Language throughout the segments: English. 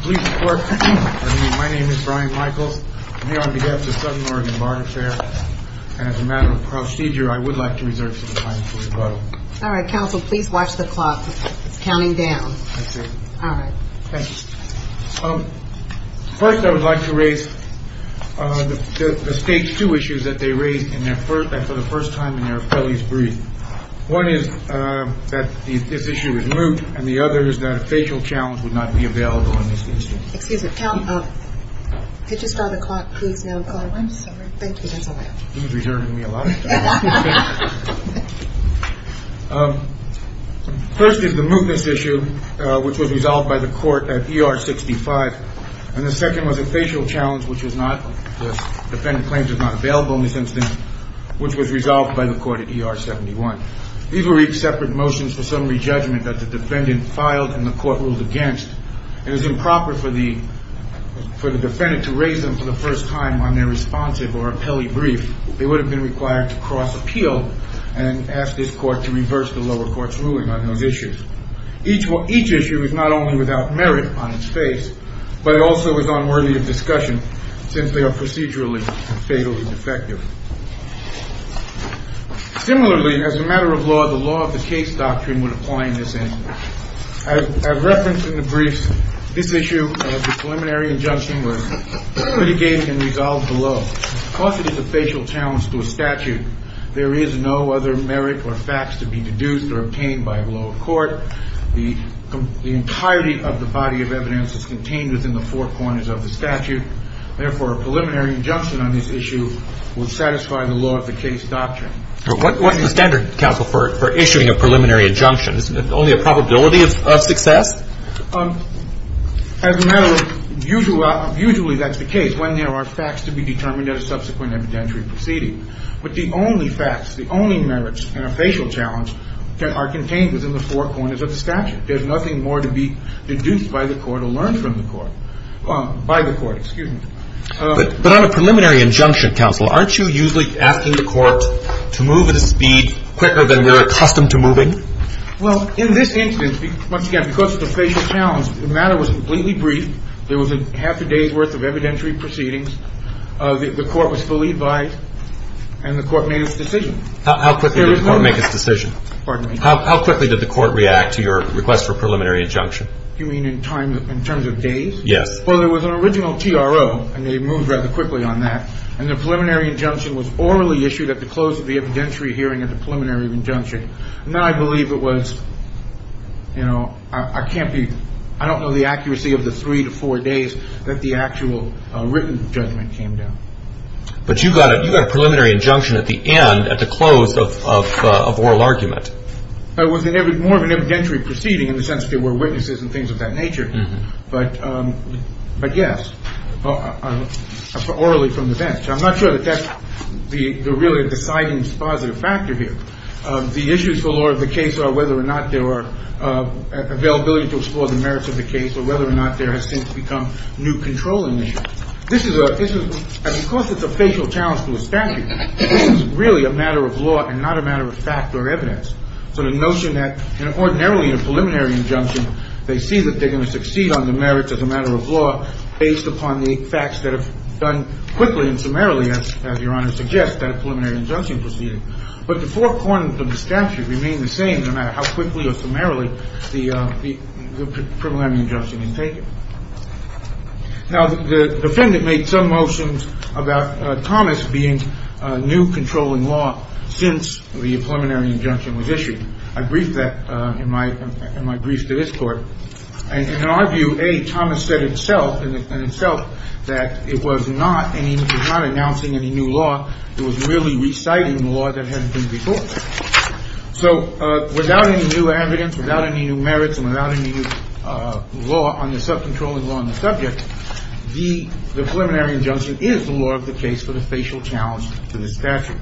Please report. My name is Brian Michaels. I'm here on behalf of Southern Oregon Barter Fair, and as a matter of procedure, I would like to reserve some time for rebuttal. All right. Counsel, please watch the clock. It's counting down. I see. All right. Thank you. First, I would like to raise the Stage 2 issues that they raised for the first time in their appellee's brief. One is that this issue is moot, and the other is that a facial challenge would not be available in this instance. Excuse me. Counsel, could you start the clock, please, now? I'm sorry. Thank you. That's all right. He was reserving me a lot of time. First is the mootness issue, which was resolved by the court at ER 65. And the second was a facial challenge, which the defendant claims was not available in this instance, which was resolved by the court at ER 71. These were each separate motions for summary judgment that the defendant filed and the court ruled against. It was improper for the defendant to raise them for the first time on their responsive or appellee brief. They would have been required to cross-appeal and ask this court to reverse the lower court's ruling on those issues. Each issue is not only without merit on its face, but it also is unworthy of discussion since they are procedurally and fatally defective. Similarly, as a matter of law, the law of the case doctrine would apply in this instance. As referenced in the briefs, this issue of the preliminary injunction was litigated and resolved below. Because it is a facial challenge to a statute, there is no other merit or facts to be deduced or obtained by the lower court. The entirety of the body of evidence is contained within the four corners of the statute. Therefore, a preliminary injunction on this issue would satisfy the law of the case doctrine. What's the standard, counsel, for issuing a preliminary injunction? Is it only a probability of success? As a matter of usual law, usually that's the case when there are facts to be determined at a subsequent evidentiary proceeding. But the only facts, the only merits in a facial challenge are contained within the four corners of the statute. There's nothing more to be deduced by the court or learned from the court. By the court, excuse me. But on a preliminary injunction, counsel, aren't you usually asking the court to move at a speed quicker than they're accustomed to moving? Well, in this instance, once again, because it's a facial challenge, the matter was completely brief. There was half a day's worth of evidentiary proceedings. The court was fully advised, and the court made its decision. How quickly did the court make its decision? Pardon me? How quickly did the court react to your request for a preliminary injunction? You mean in terms of days? Yes. Well, there was an original TRO, and they moved rather quickly on that. And the preliminary injunction was orally issued at the close of the evidentiary hearing at the preliminary injunction. And I believe it was, you know, I can't be – I don't know the accuracy of the three to four days that the actual written judgment came down. But you got a preliminary injunction at the end, at the close of oral argument. It was more of an evidentiary proceeding in the sense that there were witnesses and things of that nature. But yes, orally from the bench. I'm not sure that that's the really deciding positive factor here. The issues for the law of the case are whether or not there were availability to explore the merits of the case or whether or not there has since become new controlling nature. This is a – because it's a facial challenge to the statute, this is really a matter of law and not a matter of fact or evidence. So the notion that ordinarily in a preliminary injunction, they see that they're going to succeed on the merits as a matter of law based upon the facts that are done quickly and summarily, as Your Honor suggests, at a preliminary injunction proceeding. But the four corners of the statute remain the same no matter how quickly or summarily the preliminary injunction is taken. Now, the defendant made some motions about Thomas being new controlling law since the preliminary injunction was issued. I briefed that in my briefs to this court. And in our view, A, Thomas said himself and in itself that it was not – and he was not announcing any new law. It was really reciting law that hadn't been before. So without any new evidence, without any new merits and without any new law on the subcontrolling law on the subject, the preliminary injunction is the law of the case for the facial challenge to the statute.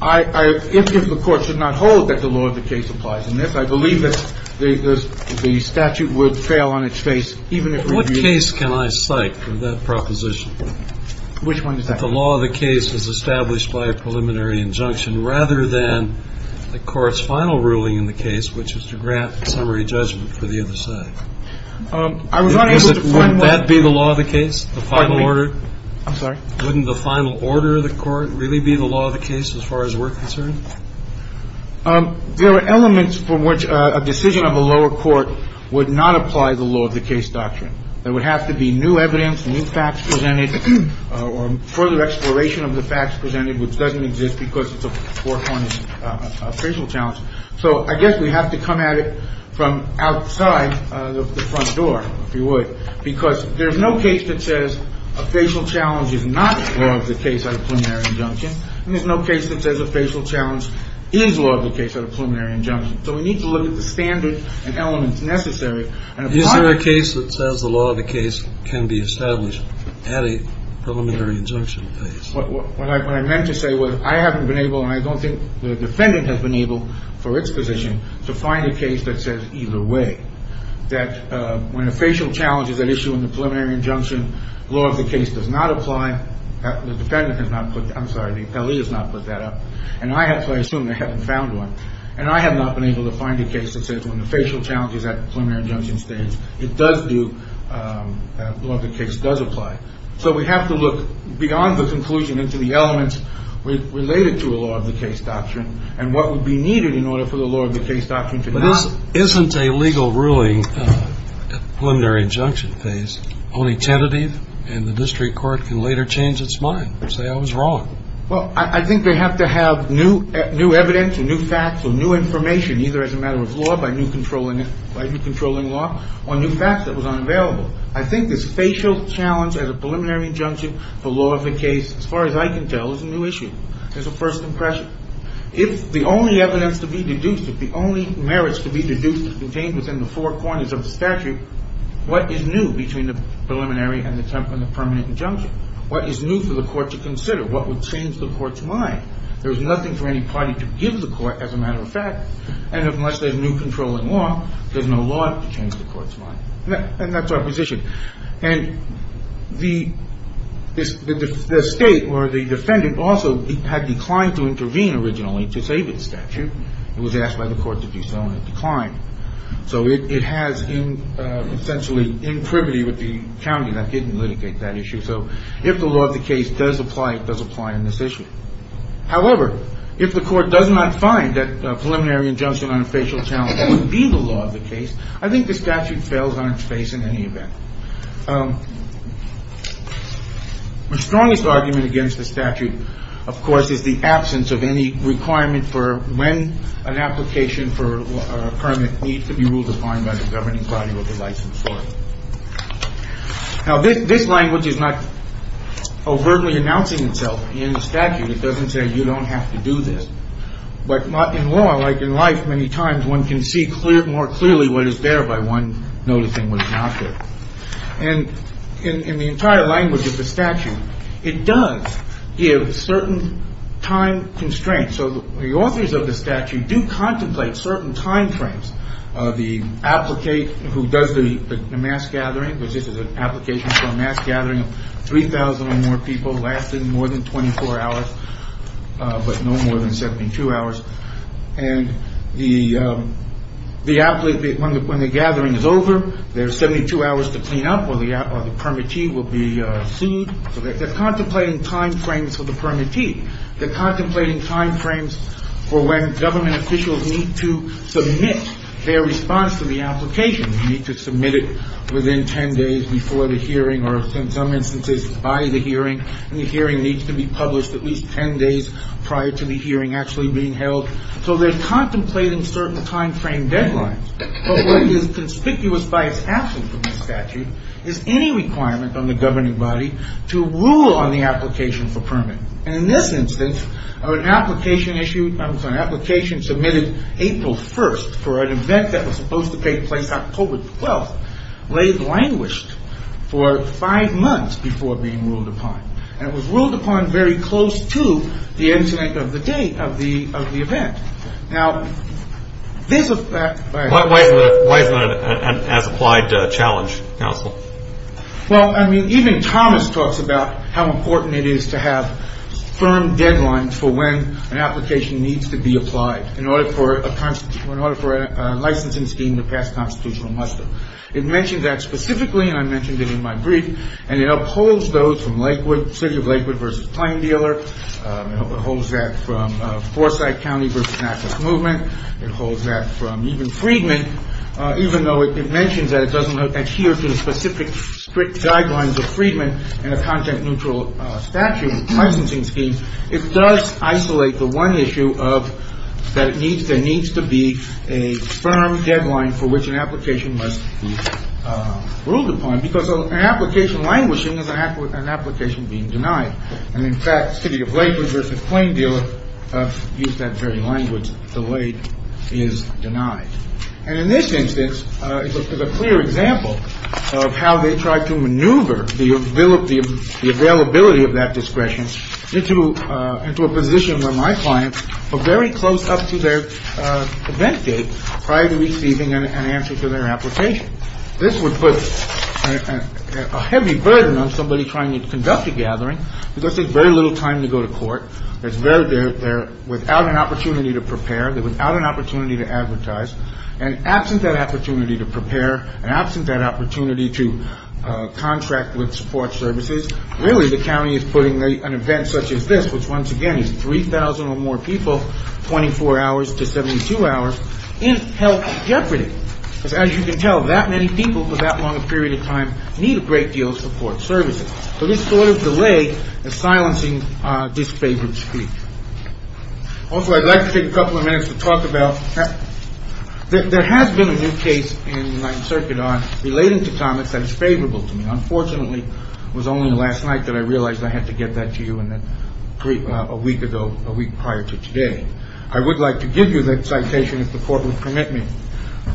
I – if the Court should not hold that the law of the case applies in this, I believe that the statute would fail on its face even if reviewed. That the law of the case is established by a preliminary injunction rather than the court's final ruling in the case, which is to grant summary judgment for the other side. Would that be the law of the case, the final order? I'm sorry. Wouldn't the final order of the court really be the law of the case as far as we're concerned? There are elements for which a decision of the lower court would not apply the law of the case doctrine. There would have to be new evidence, new facts presented, or further exploration of the facts presented, which doesn't exist because it's a foregone facial challenge. So I guess we have to come at it from outside the front door, if you would, because there's no case that says a facial challenge is not law of the case under a preliminary injunction, and there's no case that says a facial challenge is law of the case under a preliminary injunction. So we need to look at the standards and elements necessary. Is there a case that says the law of the case can be established at a preliminary injunction phase? What I meant to say was I haven't been able, and I don't think the defendant has been able for its position, to find a case that says either way, that when a facial challenge is at issue in the preliminary injunction, law of the case does not apply. The defendant has not put, I'm sorry, the attorney has not put that up. And I have to assume they haven't found one. And I have not been able to find a case that says when the facial challenge is at the preliminary injunction stage, it does do, law of the case does apply. So we have to look beyond the conclusion into the elements related to a law of the case doctrine and what would be needed in order for the law of the case doctrine to not. Isn't a legal ruling at the preliminary injunction phase only tentative and the district court can later change its mind and say I was wrong? Well, I think they have to have new evidence or new facts or new information, either as a matter of law by new controlling law, or new facts that was unavailable. I think this facial challenge at a preliminary injunction for law of the case, as far as I can tell, is a new issue. There's a first impression. If the only evidence to be deduced, if the only merits to be deduced is contained within the four corners of the statute, what is new between the preliminary and the permanent injunction? What is new for the court to consider? What would change the court's mind? There's nothing for any party to give the court, as a matter of fact, and unless there's new controlling law, there's no law to change the court's mind. And that's our position. And the state or the defendant also had declined to intervene originally to save its statute. It was asked by the court to be so, and it declined. So it has been essentially in privity with the county that didn't litigate that issue. So if the law of the case does apply, it does apply in this issue. However, if the court does not find that a preliminary injunction on a facial challenge would be the law of the case, I think the statute fails on its face in any event. The strongest argument against the statute, of course, is the absence of any requirement for when an application for a permit needs to be ruled defined by the governing body or the licensed authority. Now, this language is not overtly announcing itself in the statute. It doesn't say you don't have to do this. But in law, like in life, many times one can see more clearly what is there by one noticing what is not there. And in the entire language of the statute, it does give certain time constraints. So the authors of the statute do contemplate certain time frames. The applicant who does the mass gathering, which is an application for a mass gathering. Three thousand or more people lasted more than 24 hours, but no more than 72 hours. And the the applicant, when the gathering is over, there are 72 hours to clean up. So they're contemplating time frames for the permittee. They're contemplating time frames for when government officials need to submit their response to the application. You need to submit it within 10 days before the hearing or in some instances by the hearing. And the hearing needs to be published at least 10 days prior to the hearing actually being held. So they're contemplating certain time frame deadlines. But what is conspicuous by its absence from the statute is any requirement on the governing body to rule on the application for permit. And in this instance, an application issued an application submitted April 1st for an event that was supposed to take place October 12th, lay languished for five months before being ruled upon. And it was ruled upon very close to the incident of the day of the of the event. Now, there's a fact. Why is that an as applied challenge? Counsel? Well, I mean, even Thomas talks about how important it is to have firm deadlines for when an application needs to be applied in order for a in order for a licensing scheme to pass constitutional muster. It mentioned that specifically. And I mentioned it in my brief. And it upholds those from Lakewood City of Lakewood versus Plain Dealer. Holds that from Forsyth County versus movement. It holds that from even Friedman, even though it mentions that it doesn't adhere to the specific strict guidelines of Friedman and a content neutral statute licensing scheme. It does isolate the one issue of that. It needs there needs to be a firm deadline for which an application must be ruled upon, because an application languishing is an application being denied. And in fact, city of Lakewood versus Plain Dealer use that very language. The late is denied. And in this instance, it was a clear example of how they tried to maneuver the availability of the availability of that discretion into a position where my clients were very close up to their event date prior to receiving an answer to their application. This would put a heavy burden on somebody trying to conduct a gathering because there's very little time to go to court. It's very good. They're without an opportunity to prepare. They're without an opportunity to advertise. And absent that opportunity to prepare and absent that opportunity to contract with support services, really, the county is putting an event such as this, which, once again, is 3,000 or more people, 24 hours to 72 hours, in health jeopardy. As you can tell, that many people for that long a period of time need a great deal of support services. So this sort of delay is silencing this favored speech. Also, I'd like to take a couple of minutes to talk about that. There has been a new case in my circuit on relating to comments that is favorable to me. Unfortunately, it was only last night that I realized I had to get that to you. And then a week ago, a week prior to today, I would like to give you that citation if the court would permit me.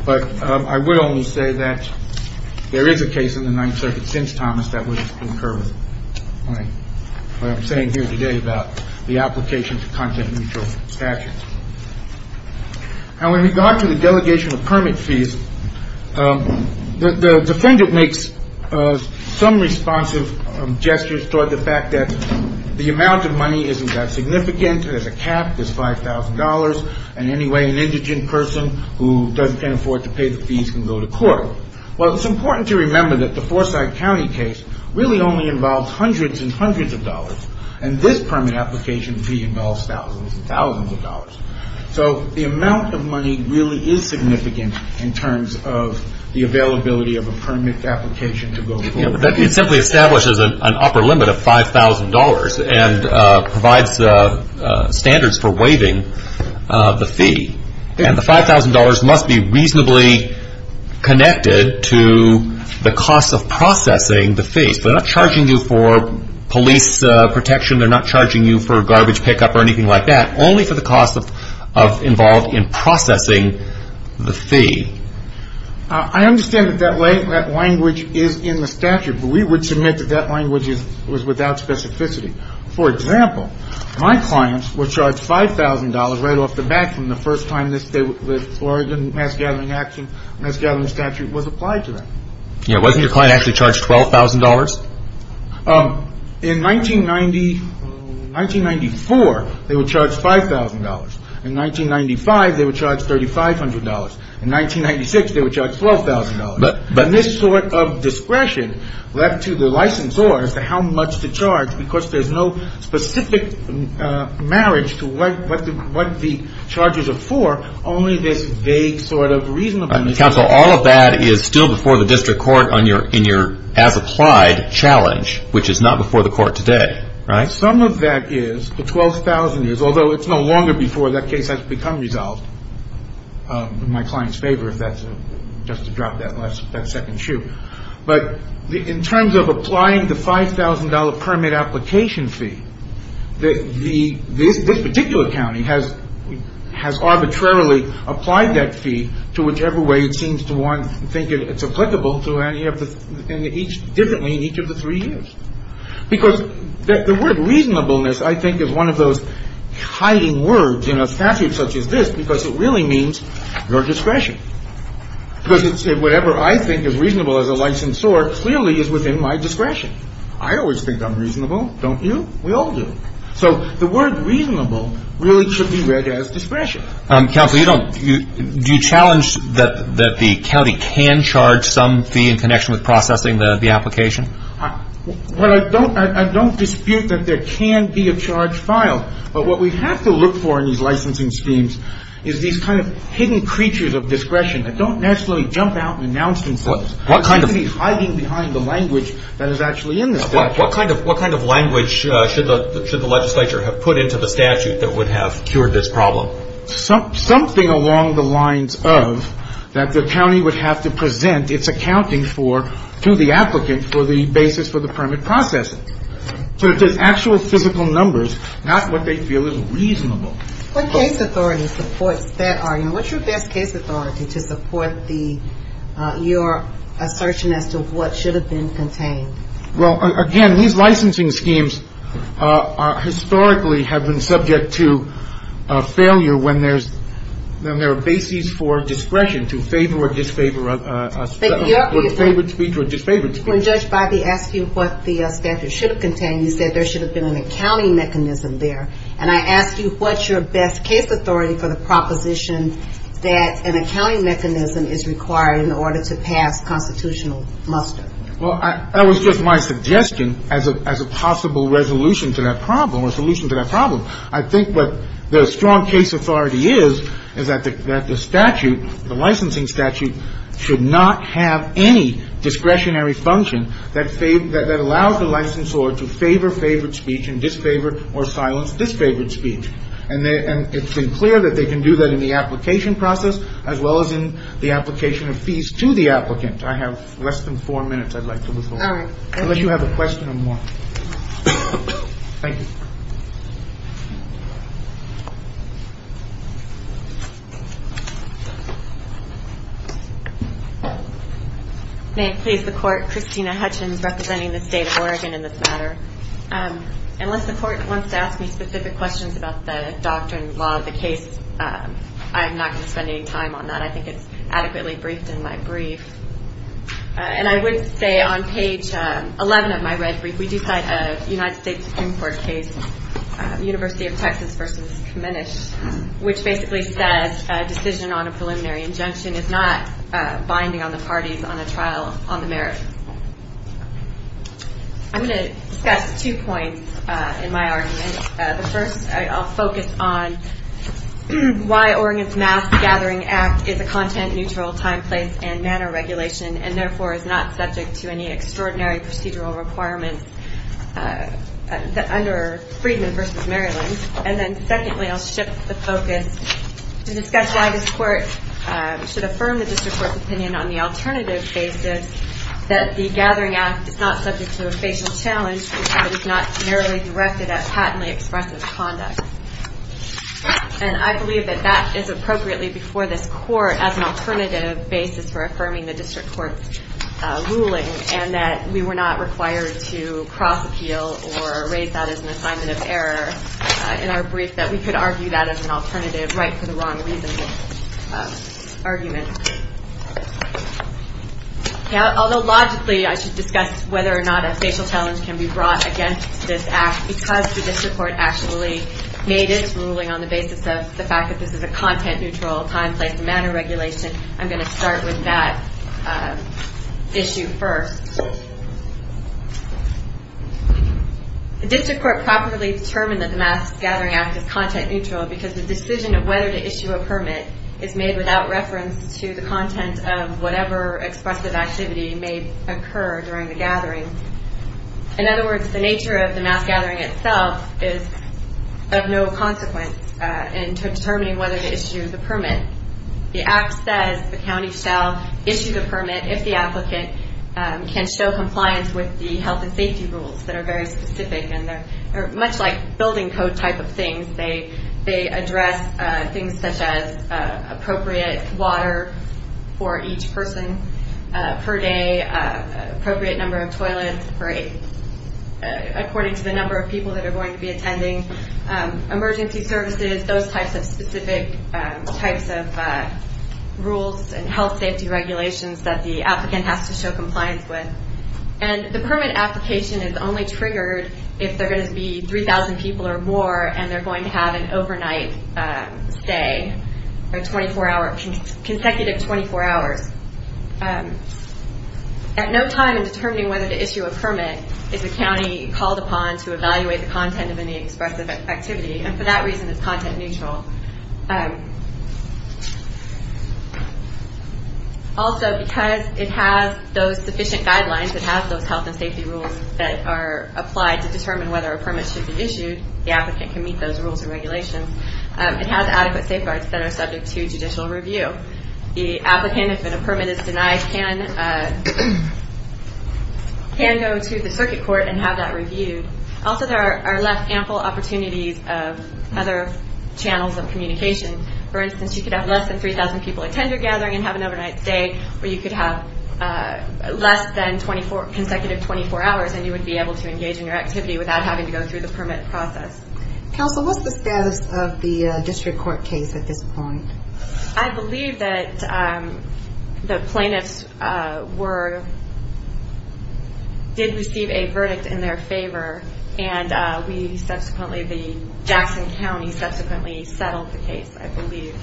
But I would only say that there is a case in the Ninth Circuit since Thomas that would concur with what I'm saying here today about the application to contract mutual statute. Now, in regard to the delegation of permit fees, the defendant makes some responsive gestures toward the fact that the amount of money isn't that significant. There's a cap. There's $5,000. And anyway, an indigent person who can't afford to pay the fees can go to court. Well, it's important to remember that the Forsyth County case really only involves hundreds and hundreds of dollars. And this permit application fee involves thousands and thousands of dollars. So the amount of money really is significant in terms of the availability of a permit application to go to court. It simply establishes an upper limit of $5,000 and provides standards for waiving the fee. And the $5,000 must be reasonably connected to the cost of processing the fees. They're not charging you for police protection. They're not charging you for garbage pickup or anything like that, only for the cost involved in processing the fee. I understand that language is in the statute, but we would submit that that language was without specificity. For example, my clients were charged $5,000 right off the bat from the first time the Oregon Mass Gathering Action Mass Gathering statute was applied to them. Yeah. Wasn't your client actually charged $12,000? In 1990, 1994, they were charged $5,000. In 1995, they were charged $3,500. In 1996, they were charged $12,000. But this sort of discretion left to the licensor as to how much to charge because there's no specific marriage to what the charges are for, only this vague sort of reasonableness. Counsel, all of that is still before the district court in your as-applied challenge, which is not before the court today, right? Some of that is, the $12,000 is, although it's no longer before that case has become resolved. In my client's favor, if that's just to drop that second shoe. But in terms of applying the $5,000 permit application fee, this particular county has arbitrarily applied that fee to whichever way it seems to want to think it's applicable differently in each of the three years. Because the word reasonableness, I think, is one of those hiding words in a statute such as this because it really means your discretion. Because whatever I think is reasonable as a licensor clearly is within my discretion. I always think I'm reasonable. Don't you? We all do. So the word reasonable really should be read as discretion. Counsel, you don't – do you challenge that the county can charge some fee in connection with processing the application? Well, I don't dispute that there can be a charge filed. But what we have to look for in these licensing schemes is these kind of hidden creatures of discretion that don't naturally jump out and announce themselves. What kind of – They should be hiding behind the language that is actually in this statute. What kind of language should the legislature have put into the statute that would have cured this problem? Well, something along the lines of that the county would have to present its accounting for to the applicant for the basis for the permit processing. So if there's actual physical numbers, not what they feel is reasonable. What case authority supports that argument? What's your best case authority to support the – your assertion as to what should have been contained? Well, again, these licensing schemes are – historically have been subject to failure when there's – when there are bases for discretion, to favor or disfavor a – But your – Or favored speech or disfavored speech. When Judge Biby asked you what the statute should have contained, you said there should have been an accounting mechanism there. And I ask you, what's your best case authority for the proposition that an accounting mechanism is required in order to pass constitutional muster? Well, I – that was just my suggestion as a possible resolution to that problem or solution to that problem. I think what the strong case authority is, is that the statute, the licensing statute, should not have any discretionary function that allows the licensor to favor favored speech and disfavor or silence disfavored speech. And it's been clear that they can do that in the application process as well as in the application of fees to the applicant. I have less than four minutes I'd like to withhold. All right. Unless you have a question or more. Thank you. May it please the Court, Christina Hutchins representing the State of Oregon in this matter. Unless the Court wants to ask me specific questions about the doctrine, law of the case, I'm not going to spend any time on that. I think it's adequately briefed in my brief. And I would say on page 11 of my red brief, we do cite a United States Supreme Court case, University of Texas v. Kaminish, which basically says a decision on a preliminary injunction is not binding on the parties on a trial on the merits. I'm going to discuss two points in my argument. The first, I'll focus on why Oregon's Mass Gathering Act is a content-neutral time, place, and manner regulation and therefore is not subject to any extraordinary procedural requirements under Friedman v. Maryland. And then secondly, I'll shift the focus to discuss why this Court should affirm the District Court's opinion on the alternative basis that the Gathering Act is not subject to a facial challenge but is not merely directed at patently expressive conduct. And I believe that that is appropriately before this Court as an alternative basis for affirming the District Court's ruling and that we were not required to cross-appeal or raise that as an assignment of error in our brief, that we could argue that as an alternative right for the wrong reasons of argument. Although logically, I should discuss whether or not a facial challenge can be brought against this Act, because the District Court actually made its ruling on the basis of the fact that this is a content-neutral time, place, and manner regulation, I'm going to start with that issue first. The District Court properly determined that the Mass Gathering Act is content-neutral because the decision of whether to issue a permit is made without reference to the content of whatever expressive activity may occur during the gathering. In other words, the nature of the Mass Gathering itself is of no consequence in determining whether to issue the permit. The Act says the county shall issue the permit if the applicant can show compliance with the health and safety rules that are very specific, and they're much like building code type of things. They address things such as appropriate water for each person per day, appropriate number of toilets according to the number of people that are going to be attending, emergency services, those types of specific rules and health and safety regulations that the applicant has to show compliance with. And the permit application is only triggered if there are going to be 3,000 people or more, and they're going to have an overnight stay, a consecutive 24 hours. At no time in determining whether to issue a permit is the county called upon to evaluate the content of any expressive activity, and for that reason it's content-neutral. Also, because it has those sufficient guidelines, it has those health and safety rules that are applied to determine whether a permit should be issued, the applicant can meet those rules and regulations, it has adequate safeguards that are subject to judicial review. The applicant, if a permit is denied, can go to the circuit court and have that reviewed. Also, there are ample opportunities of other channels of communication. For instance, you could have less than 3,000 people attend your gathering and have an overnight stay, or you could have less than consecutive 24 hours and you would be able to engage in your activity without having to go through the permit process. Counsel, what's the status of the district court case at this point? I believe that the plaintiffs did receive a verdict in their favor, and Jackson County subsequently settled the case, I believe.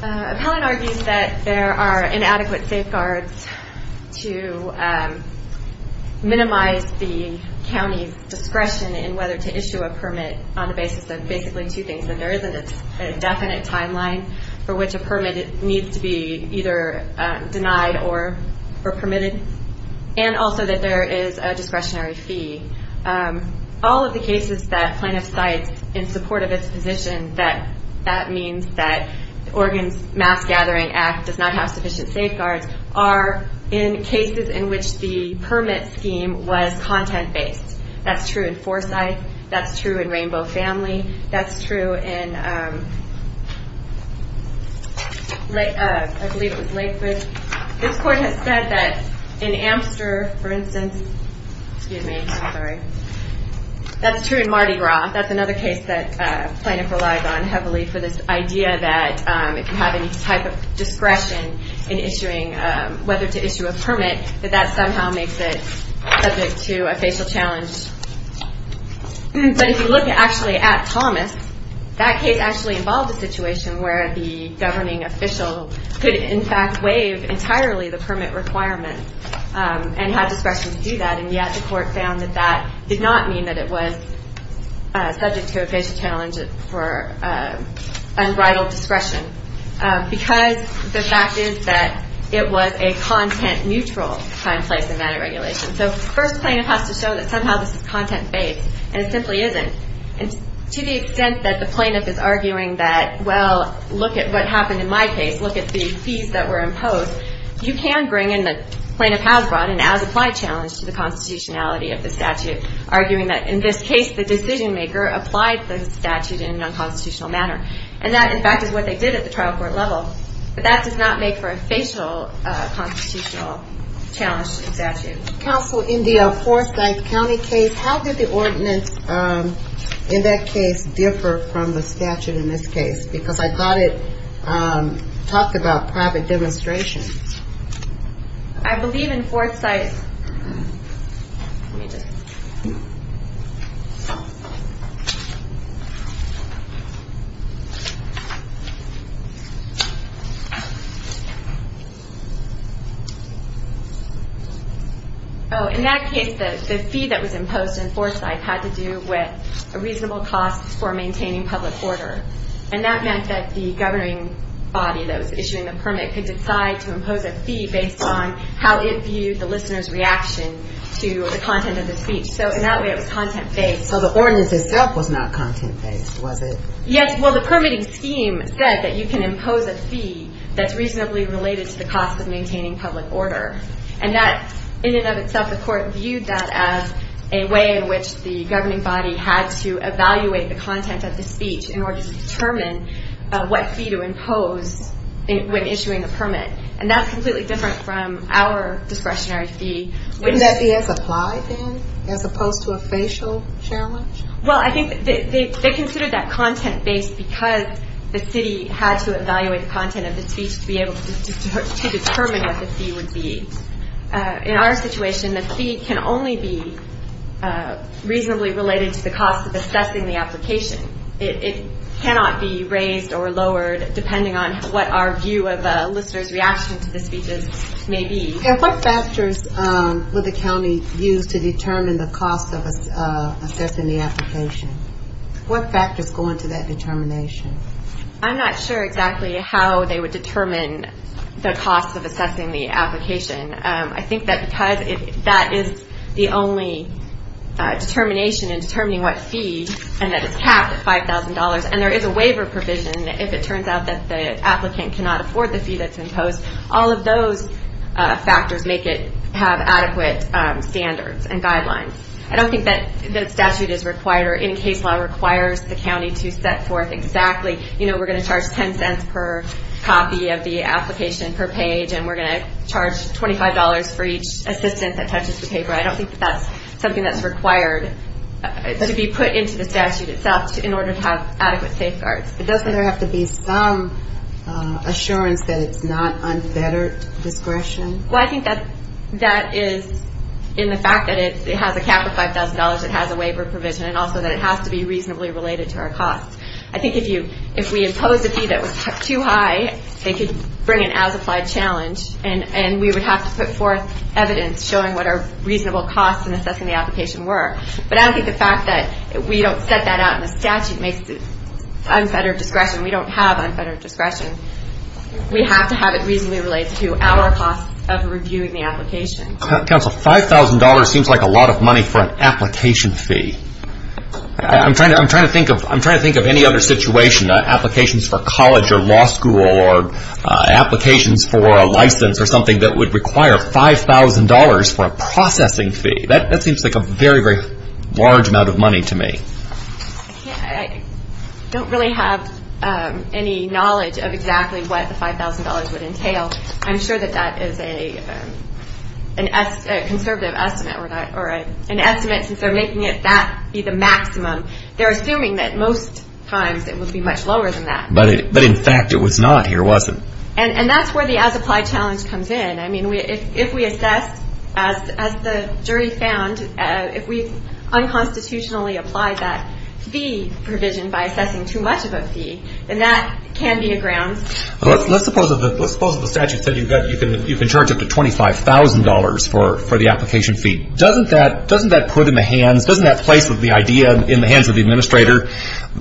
Appellant argues that there are inadequate safeguards to minimize the county's discretion in whether to issue a permit on the basis of basically two things, that there is a definite timeline for which a permit needs to be either denied or permitted, and also that there is a discretionary fee. All of the cases that plaintiffs cite in support of its position that that means that Oregon's Mass Gathering Act does not have sufficient safeguards are in cases in which the permit scheme was content-based. That's true in Forsyth, that's true in Rainbow Family, that's true in, I believe it was Lakewood. This court has said that in Amster, for instance, excuse me, sorry, that's true in Mardi Gras. That's another case that plaintiffs relied on heavily for this idea that if you have any type of discretion in issuing, whether to issue a permit, that that somehow makes it subject to a facial challenge. But if you look actually at Thomas, that case actually involved a situation where the governing official could in fact waive entirely the permit requirement and have discretion to do that, and yet the court found that that did not mean that it was subject to a facial challenge for unbridled discretion, because the fact is that it was a content-neutral time, place, and manner regulation. So the first plaintiff has to show that somehow this is content-based, and it simply isn't. And to the extent that the plaintiff is arguing that, well, look at what happened in my case, look at the fees that were imposed, you can bring in the plaintiff has brought an as-applied challenge to the constitutionality of the statute, arguing that in this case the decision-maker applied the statute in a non-constitutional manner. And that, in fact, is what they did at the trial court level. But that does not make for a facial constitutional challenge to the statute. Counsel, in the Forsyth County case, how did the ordinance in that case differ from the statute in this case? Because I thought it talked about private demonstration. I believe in Forsyth – let me just – Oh, in that case, the fee that was imposed in Forsyth had to do with a reasonable cost for maintaining public order. And that meant that the governing body that was issuing the permit could decide to impose a fee based on how it viewed the listener's reaction to the content of the speech. So in that way, it was content-based. So the ordinance itself was not content-based, was it? Yes. Well, the permitting scheme said that you can impose a fee that's reasonably related to the cost of maintaining public order. And that, in and of itself, the court viewed that as a way in which the governing body had to evaluate the content of the speech in order to determine what fee to impose when issuing a permit. And that's completely different from our discretionary fee. Wouldn't that be as applied, then, as opposed to a facial challenge? Well, I think they considered that content-based because the city had to evaluate the content of the speech to be able to determine what the fee would be. In our situation, the fee can only be reasonably related to the cost of assessing the application. It cannot be raised or lowered depending on what our view of a listener's reaction to the speeches may be. And what factors would the county use to determine the cost of assessing the application? What factors go into that determination? I'm not sure exactly how they would determine the cost of assessing the application. I think that because that is the only determination in determining what fee, and that it's capped at $5,000, and there is a waiver provision if it turns out that the applicant cannot afford the fee that's imposed, all of those factors make it have adequate standards and guidelines. I don't think that statute is required or any case law requires the county to set forth exactly, you know, we're going to charge $0.10 per copy of the application per page, and we're going to charge $25 for each assistant that touches the paper. I don't think that that's something that's required to be put into the statute itself in order to have adequate safeguards. Doesn't there have to be some assurance that it's not unfettered discretion? Well, I think that is in the fact that it has a cap of $5,000, it has a waiver provision, and also that it has to be reasonably related to our costs. I think if we impose a fee that was too high, they could bring an as-applied challenge, and we would have to put forth evidence showing what our reasonable costs in assessing the application were. But I don't think the fact that we don't set that out in the statute makes it unfettered discretion. We don't have unfettered discretion. We have to have it reasonably related to our costs of reviewing the application. Counsel, $5,000 seems like a lot of money for an application fee. I'm trying to think of any other situation, applications for college or law school or applications for a license or something that would require $5,000 for a processing fee. That seems like a very, very large amount of money to me. I don't really have any knowledge of exactly what the $5,000 would entail. I'm sure that that is a conservative estimate or an estimate since they're making it that be the maximum. They're assuming that most times it would be much lower than that. But in fact it was not here, was it? And that's where the as-applied challenge comes in. I mean, if we assess, as the jury found, if we unconstitutionally apply that fee provision by assessing too much of a fee, then that can be a grounds. Let's suppose the statute said you can charge up to $25,000 for the application fee. Doesn't that put in the hands, doesn't that place the idea in the hands of the administrator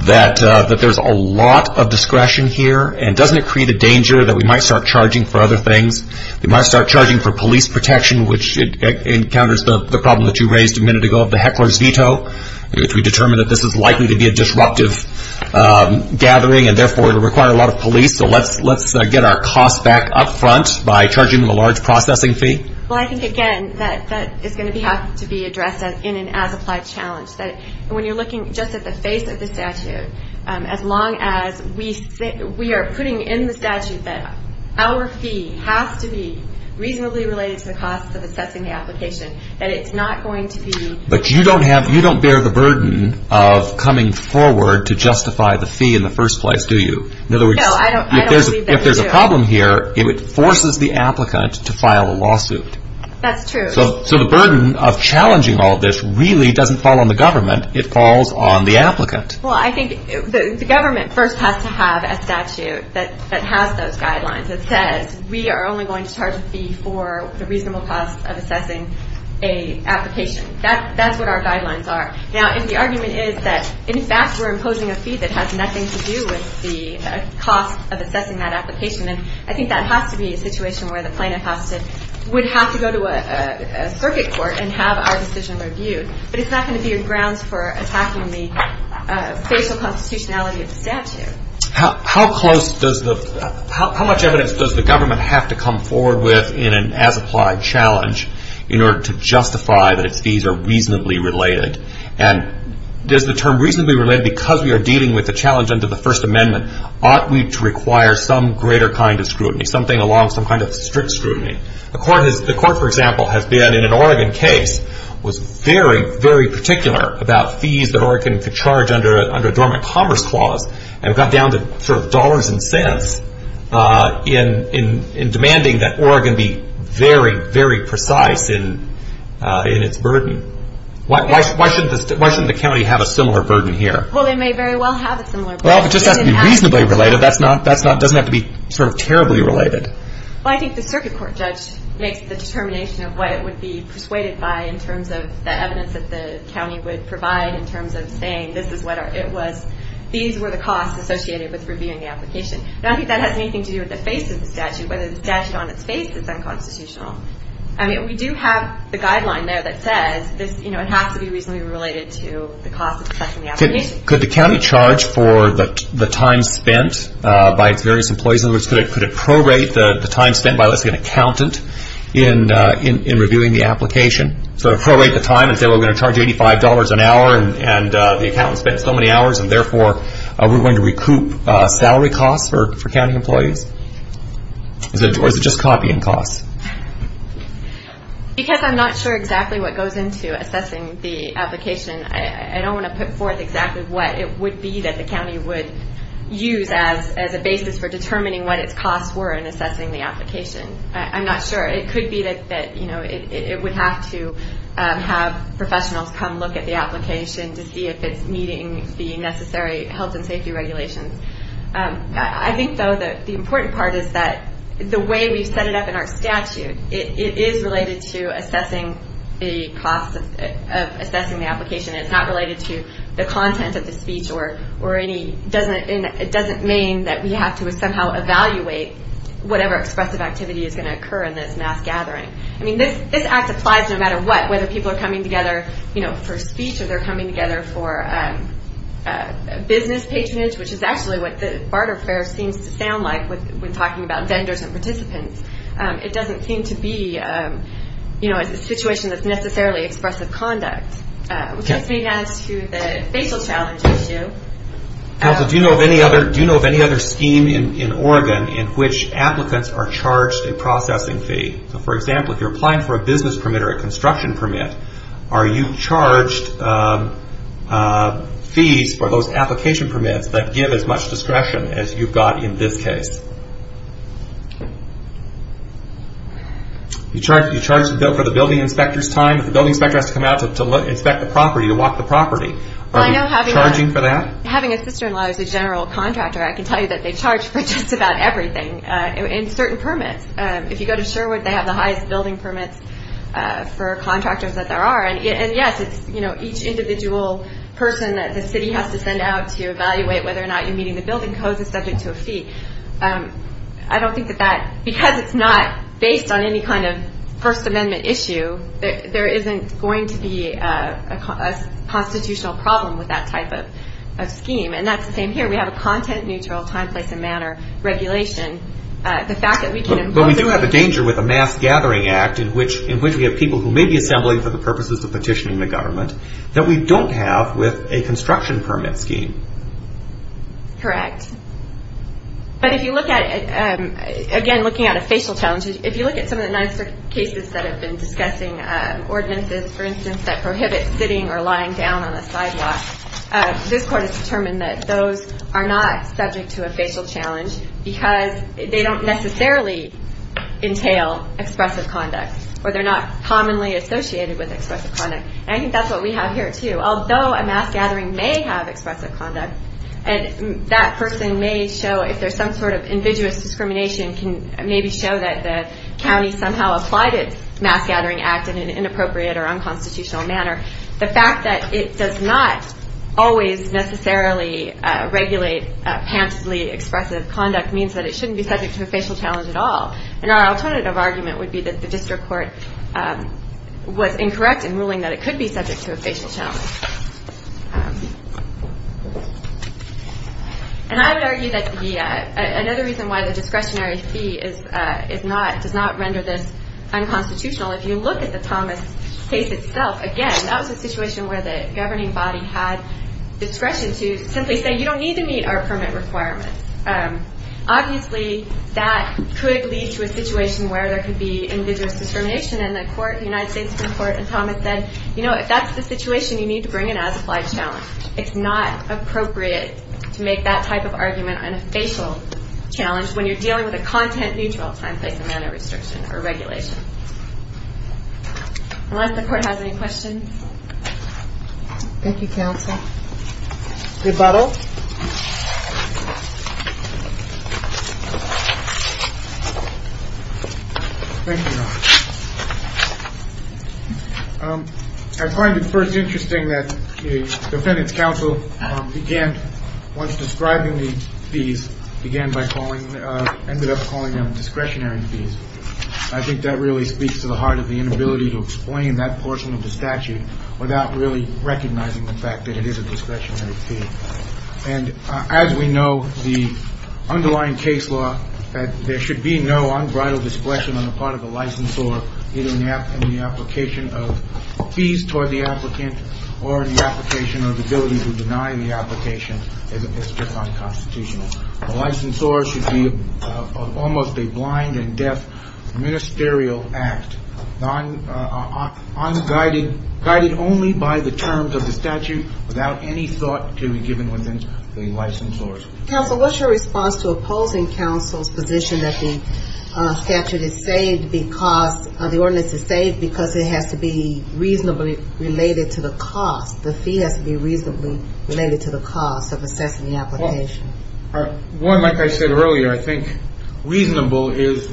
that there's a lot of discretion here? And doesn't it create a danger that we might start charging for other things? We might start charging for police protection, which encounters the problem that you raised a minute ago of the heckler's veto, which we determined that this is likely to be a disruptive gathering and therefore require a lot of police, so let's get our costs back up front by charging them a large processing fee? Well, I think, again, that is going to have to be addressed in an as-applied challenge. When you're looking just at the face of the statute, as long as we are putting in the statute that our fee has to be reasonably related to the cost of assessing the application, that it's not going to be... But you don't bear the burden of coming forward to justify the fee in the first place, do you? No, I don't believe that you do. In other words, if there's a problem here, it forces the applicant to file a lawsuit. That's true. So the burden of challenging all of this really doesn't fall on the government. It falls on the applicant. Well, I think the government first has to have a statute that has those guidelines. We are only going to charge a fee for the reasonable cost of assessing an application. That's what our guidelines are. Now, if the argument is that, in fact, we're imposing a fee that has nothing to do with the cost of assessing that application, then I think that has to be a situation where the plaintiff would have to go to a circuit court and have our decision reviewed. But it's not going to be a grounds for attacking the spatial constitutionality of the statute. How much evidence does the government have to come forward with in an as-applied challenge in order to justify that its fees are reasonably related? And is the term reasonably related because we are dealing with the challenge under the First Amendment? Ought we to require some greater kind of scrutiny, something along some kind of strict scrutiny? The court, for example, has been in an Oregon case, was very, very particular about fees that Oregon could charge under a dormant commerce clause and got down to sort of dollars and cents in demanding that Oregon be very, very precise in its burden. Why shouldn't the county have a similar burden here? Well, they may very well have a similar burden. Well, if it just has to be reasonably related, that doesn't have to be sort of terribly related. Well, I think the circuit court judge makes the determination of what it would be persuaded by in terms of the evidence that the county would provide in terms of saying this is what it was. These were the costs associated with reviewing the application. Now, I don't think that has anything to do with the face of the statute, whether the statute on its face is unconstitutional. I mean, we do have the guideline there that says, you know, it has to be reasonably related to the cost of assessing the application. Could the county charge for the time spent by its various employees? In other words, could it prorate the time spent by, let's say, an accountant in reviewing the application? Sort of prorate the time and say, well, we're going to charge $85 an hour, and the accountant spent so many hours, and therefore we're going to recoup salary costs for county employees? Or is it just copying costs? Because I'm not sure exactly what goes into assessing the application, I don't want to put forth exactly what it would be that the county would use as a basis for determining what its costs were in assessing the application. I'm not sure. It could be that, you know, it would have to have professionals come look at the application to see if it's meeting the necessary health and safety regulations. I think, though, that the important part is that the way we've set it up in our statute, it is related to assessing the cost of assessing the application. It's not related to the content of the speech, and it doesn't mean that we have to somehow evaluate whatever expressive activity is going to occur in this mass gathering. I mean, this act applies no matter what, whether people are coming together for speech or they're coming together for business patronage, which is actually what the barter fair seems to sound like when talking about vendors and participants. It doesn't seem to be a situation that's necessarily expressive conduct. Which leads me, then, to the facial challenge issue. Do you know of any other scheme in Oregon in which applicants are charged a processing fee? For example, if you're applying for a business permit or a construction permit, are you charged fees for those application permits that give as much discretion as you've got in this case? You charge for the building inspector's time. The building inspector has to come out to inspect the property, to walk the property. Are you charging for that? Having a sister-in-law who's a general contractor, I can tell you that they charge for just about everything in certain permits. If you go to Sherwood, they have the highest building permits for contractors that there are. And, yes, it's each individual person that the city has to send out to evaluate whether or not you're meeting the building codes is subject to a fee. I don't think that that, because it's not based on any kind of First Amendment issue, there isn't going to be a constitutional problem with that type of scheme. And that's the same here. We have a content-neutral time, place, and manner regulation. But we do have a danger with a mass gathering act in which we have people who may be assembling for the purposes of petitioning the government that we don't have with a construction permit scheme. Correct. But if you look at it, again, looking at a facial challenge, if you look at some of the nicer cases that have been discussing ordinances, for instance, that prohibit sitting or lying down on a sidewalk, this court has determined that those are not subject to a facial challenge because they don't necessarily entail expressive conduct or they're not commonly associated with expressive conduct. And I think that's what we have here, too. Although a mass gathering may have expressive conduct, that person may show, if there's some sort of ambiguous discrimination, can maybe show that the county somehow applied its mass gathering act in an inappropriate or unconstitutional manner. The fact that it does not always necessarily regulate pantously expressive conduct means that it shouldn't be subject to a facial challenge at all. And our alternative argument would be that the district court was incorrect in ruling that it could be subject to a facial challenge. And I would argue that another reason why the discretionary fee does not render this unconstitutional, if you look at the Thomas case itself, again, that was a situation where the governing body had discretion to simply say, you don't need to meet our permit requirements. Obviously, that could lead to a situation where there could be ambiguous discrimination, and the United States Supreme Court in Thomas said, you know, if that's the situation, you need to bring an as-applied challenge. It's not appropriate to make that type of argument on a facial challenge when you're dealing with a content-neutral time, place, and manner restriction or regulation. Unless the court has any questions. Thank you, counsel. The battle. I find it first interesting that the defendant's counsel began once describing the fees, began by calling ended up calling them discretionary fees. I think that really speaks to the heart of the inability to explain that portion of the statute without really recognizing the fact that it is a discretionary fee. And as we know, the underlying case law, that there should be no unbridled discretion on the part of a licensor in the application of fees toward the applicant or in the application or the ability to deny the application is just unconstitutional. A licensor should be almost a blind and deaf ministerial act, unguided, guided only by the terms of the statute without any thought to be given within the licensor's. Counsel, what's your response to opposing counsel's position that the statute is saved because, the ordinance is saved because it has to be reasonably related to the cost, the fee has to be reasonably related to the cost of assessing the application? One, like I said earlier, I think reasonable is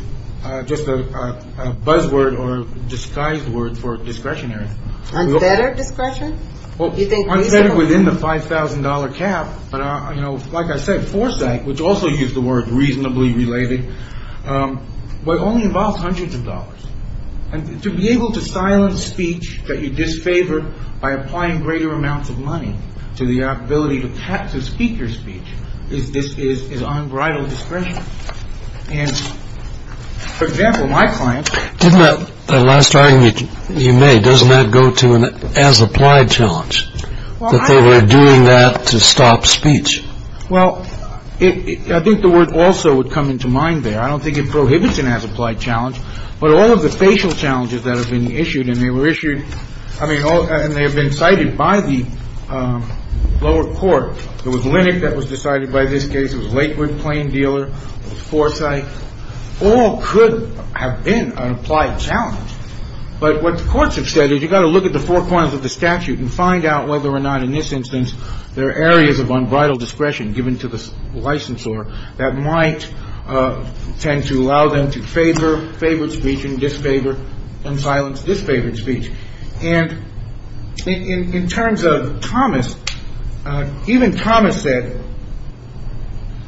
just a buzzword or disguised word for discretionary. Unfettered discretion? Unfettered within the $5,000 cap. But, you know, like I said, foresight, which also used the word reasonably related, but only involves hundreds of dollars. And to be able to silence speech that you disfavor by applying greater amounts of money to the ability to speak your speech is unbridled discretion. And, for example, my client... Didn't that last argument you made, doesn't that go to an as-applied challenge, that they were doing that to stop speech? Well, I think the word also would come into mind there. I don't think it prohibits an as-applied challenge. But all of the facial challenges that are being issued, and they were issued, I mean, and they have been cited by the lower court. There was Linnick that was decided by this case. There was Lakewood, Plain Dealer. There was Foresight. All could have been an applied challenge. But what the courts have said is you've got to look at the four corners of the statute and find out whether or not, in this instance, there are areas of unbridled discretion given to the licensor that might tend to allow them to favor, favor speech and disfavor and silence disfavored speech. And in terms of Thomas, even Thomas said,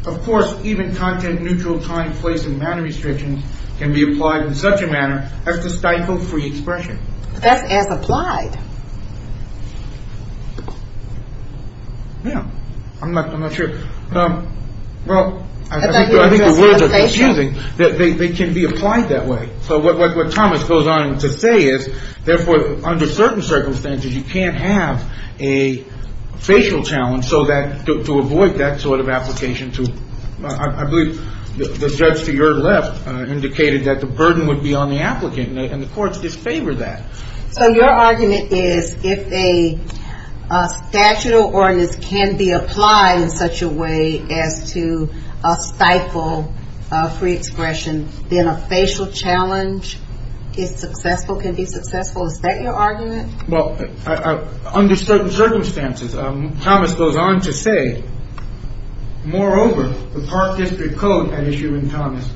of course, even content-neutral time, place, and manner restrictions can be applied in such a manner as to stifle free expression. But that's as-applied. Yeah. I'm not sure. Well, I think the words are confusing. They can be applied that way. So what Thomas goes on to say is, therefore, under certain circumstances, you can't have a facial challenge so that to avoid that sort of application to, I believe, the judge to your left indicated that the burden would be on the applicant, and the courts disfavored that. So your argument is if a statute or ordinance can be applied in such a way as to stifle free expression, then a facial challenge is successful, can be successful? Is that your argument? Well, under certain circumstances, Thomas goes on to say, moreover, the Park District Code had issued in Thomas,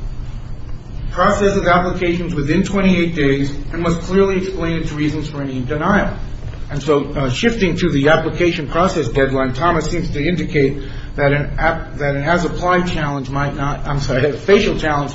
process of applications within 28 days and must clearly explain its reasons for any denial. And so shifting to the application process deadline, Thomas seems to indicate that it has applied challenge might not, I'm sorry, facial challenge,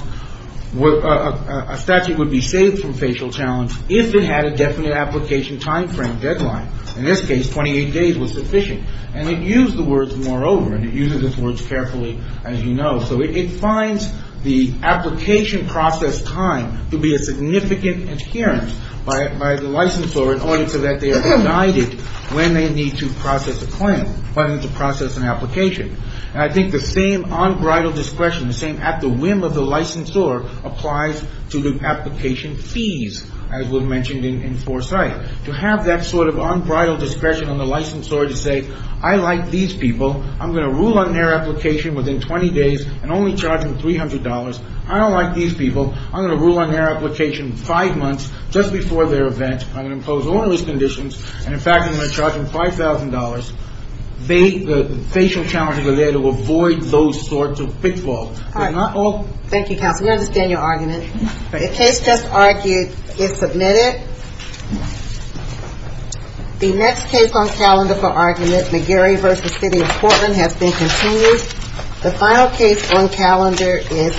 a statute would be saved from facial challenge if it had a definite application timeframe deadline. In this case, 28 days was sufficient. And it used the words, moreover, and it uses its words carefully, as you know. So it finds the application process time to be a significant adherence by the licensor in order so that they are guided when they need to process a claim, when they need to process an application. And I think the same unbridled discretion, the same at the whim of the licensor applies to the application fees, as was mentioned in foresight. To have that sort of unbridled discretion on the licensor to say, I like these people. I'm going to rule on their application within 20 days and only charge them $300. I don't like these people. I'm going to rule on their application five months just before their event. I'm going to impose all of these conditions. And, in fact, I'm going to charge them $5,000. The facial challenges are there to avoid those sorts of pitfalls. But not all. Thank you, counsel. We understand your argument. The case just argued is submitted. The next case on calendar for argument, McGarry v. City of Portland, has been continued. The final case on calendar is FEC v. Rivera.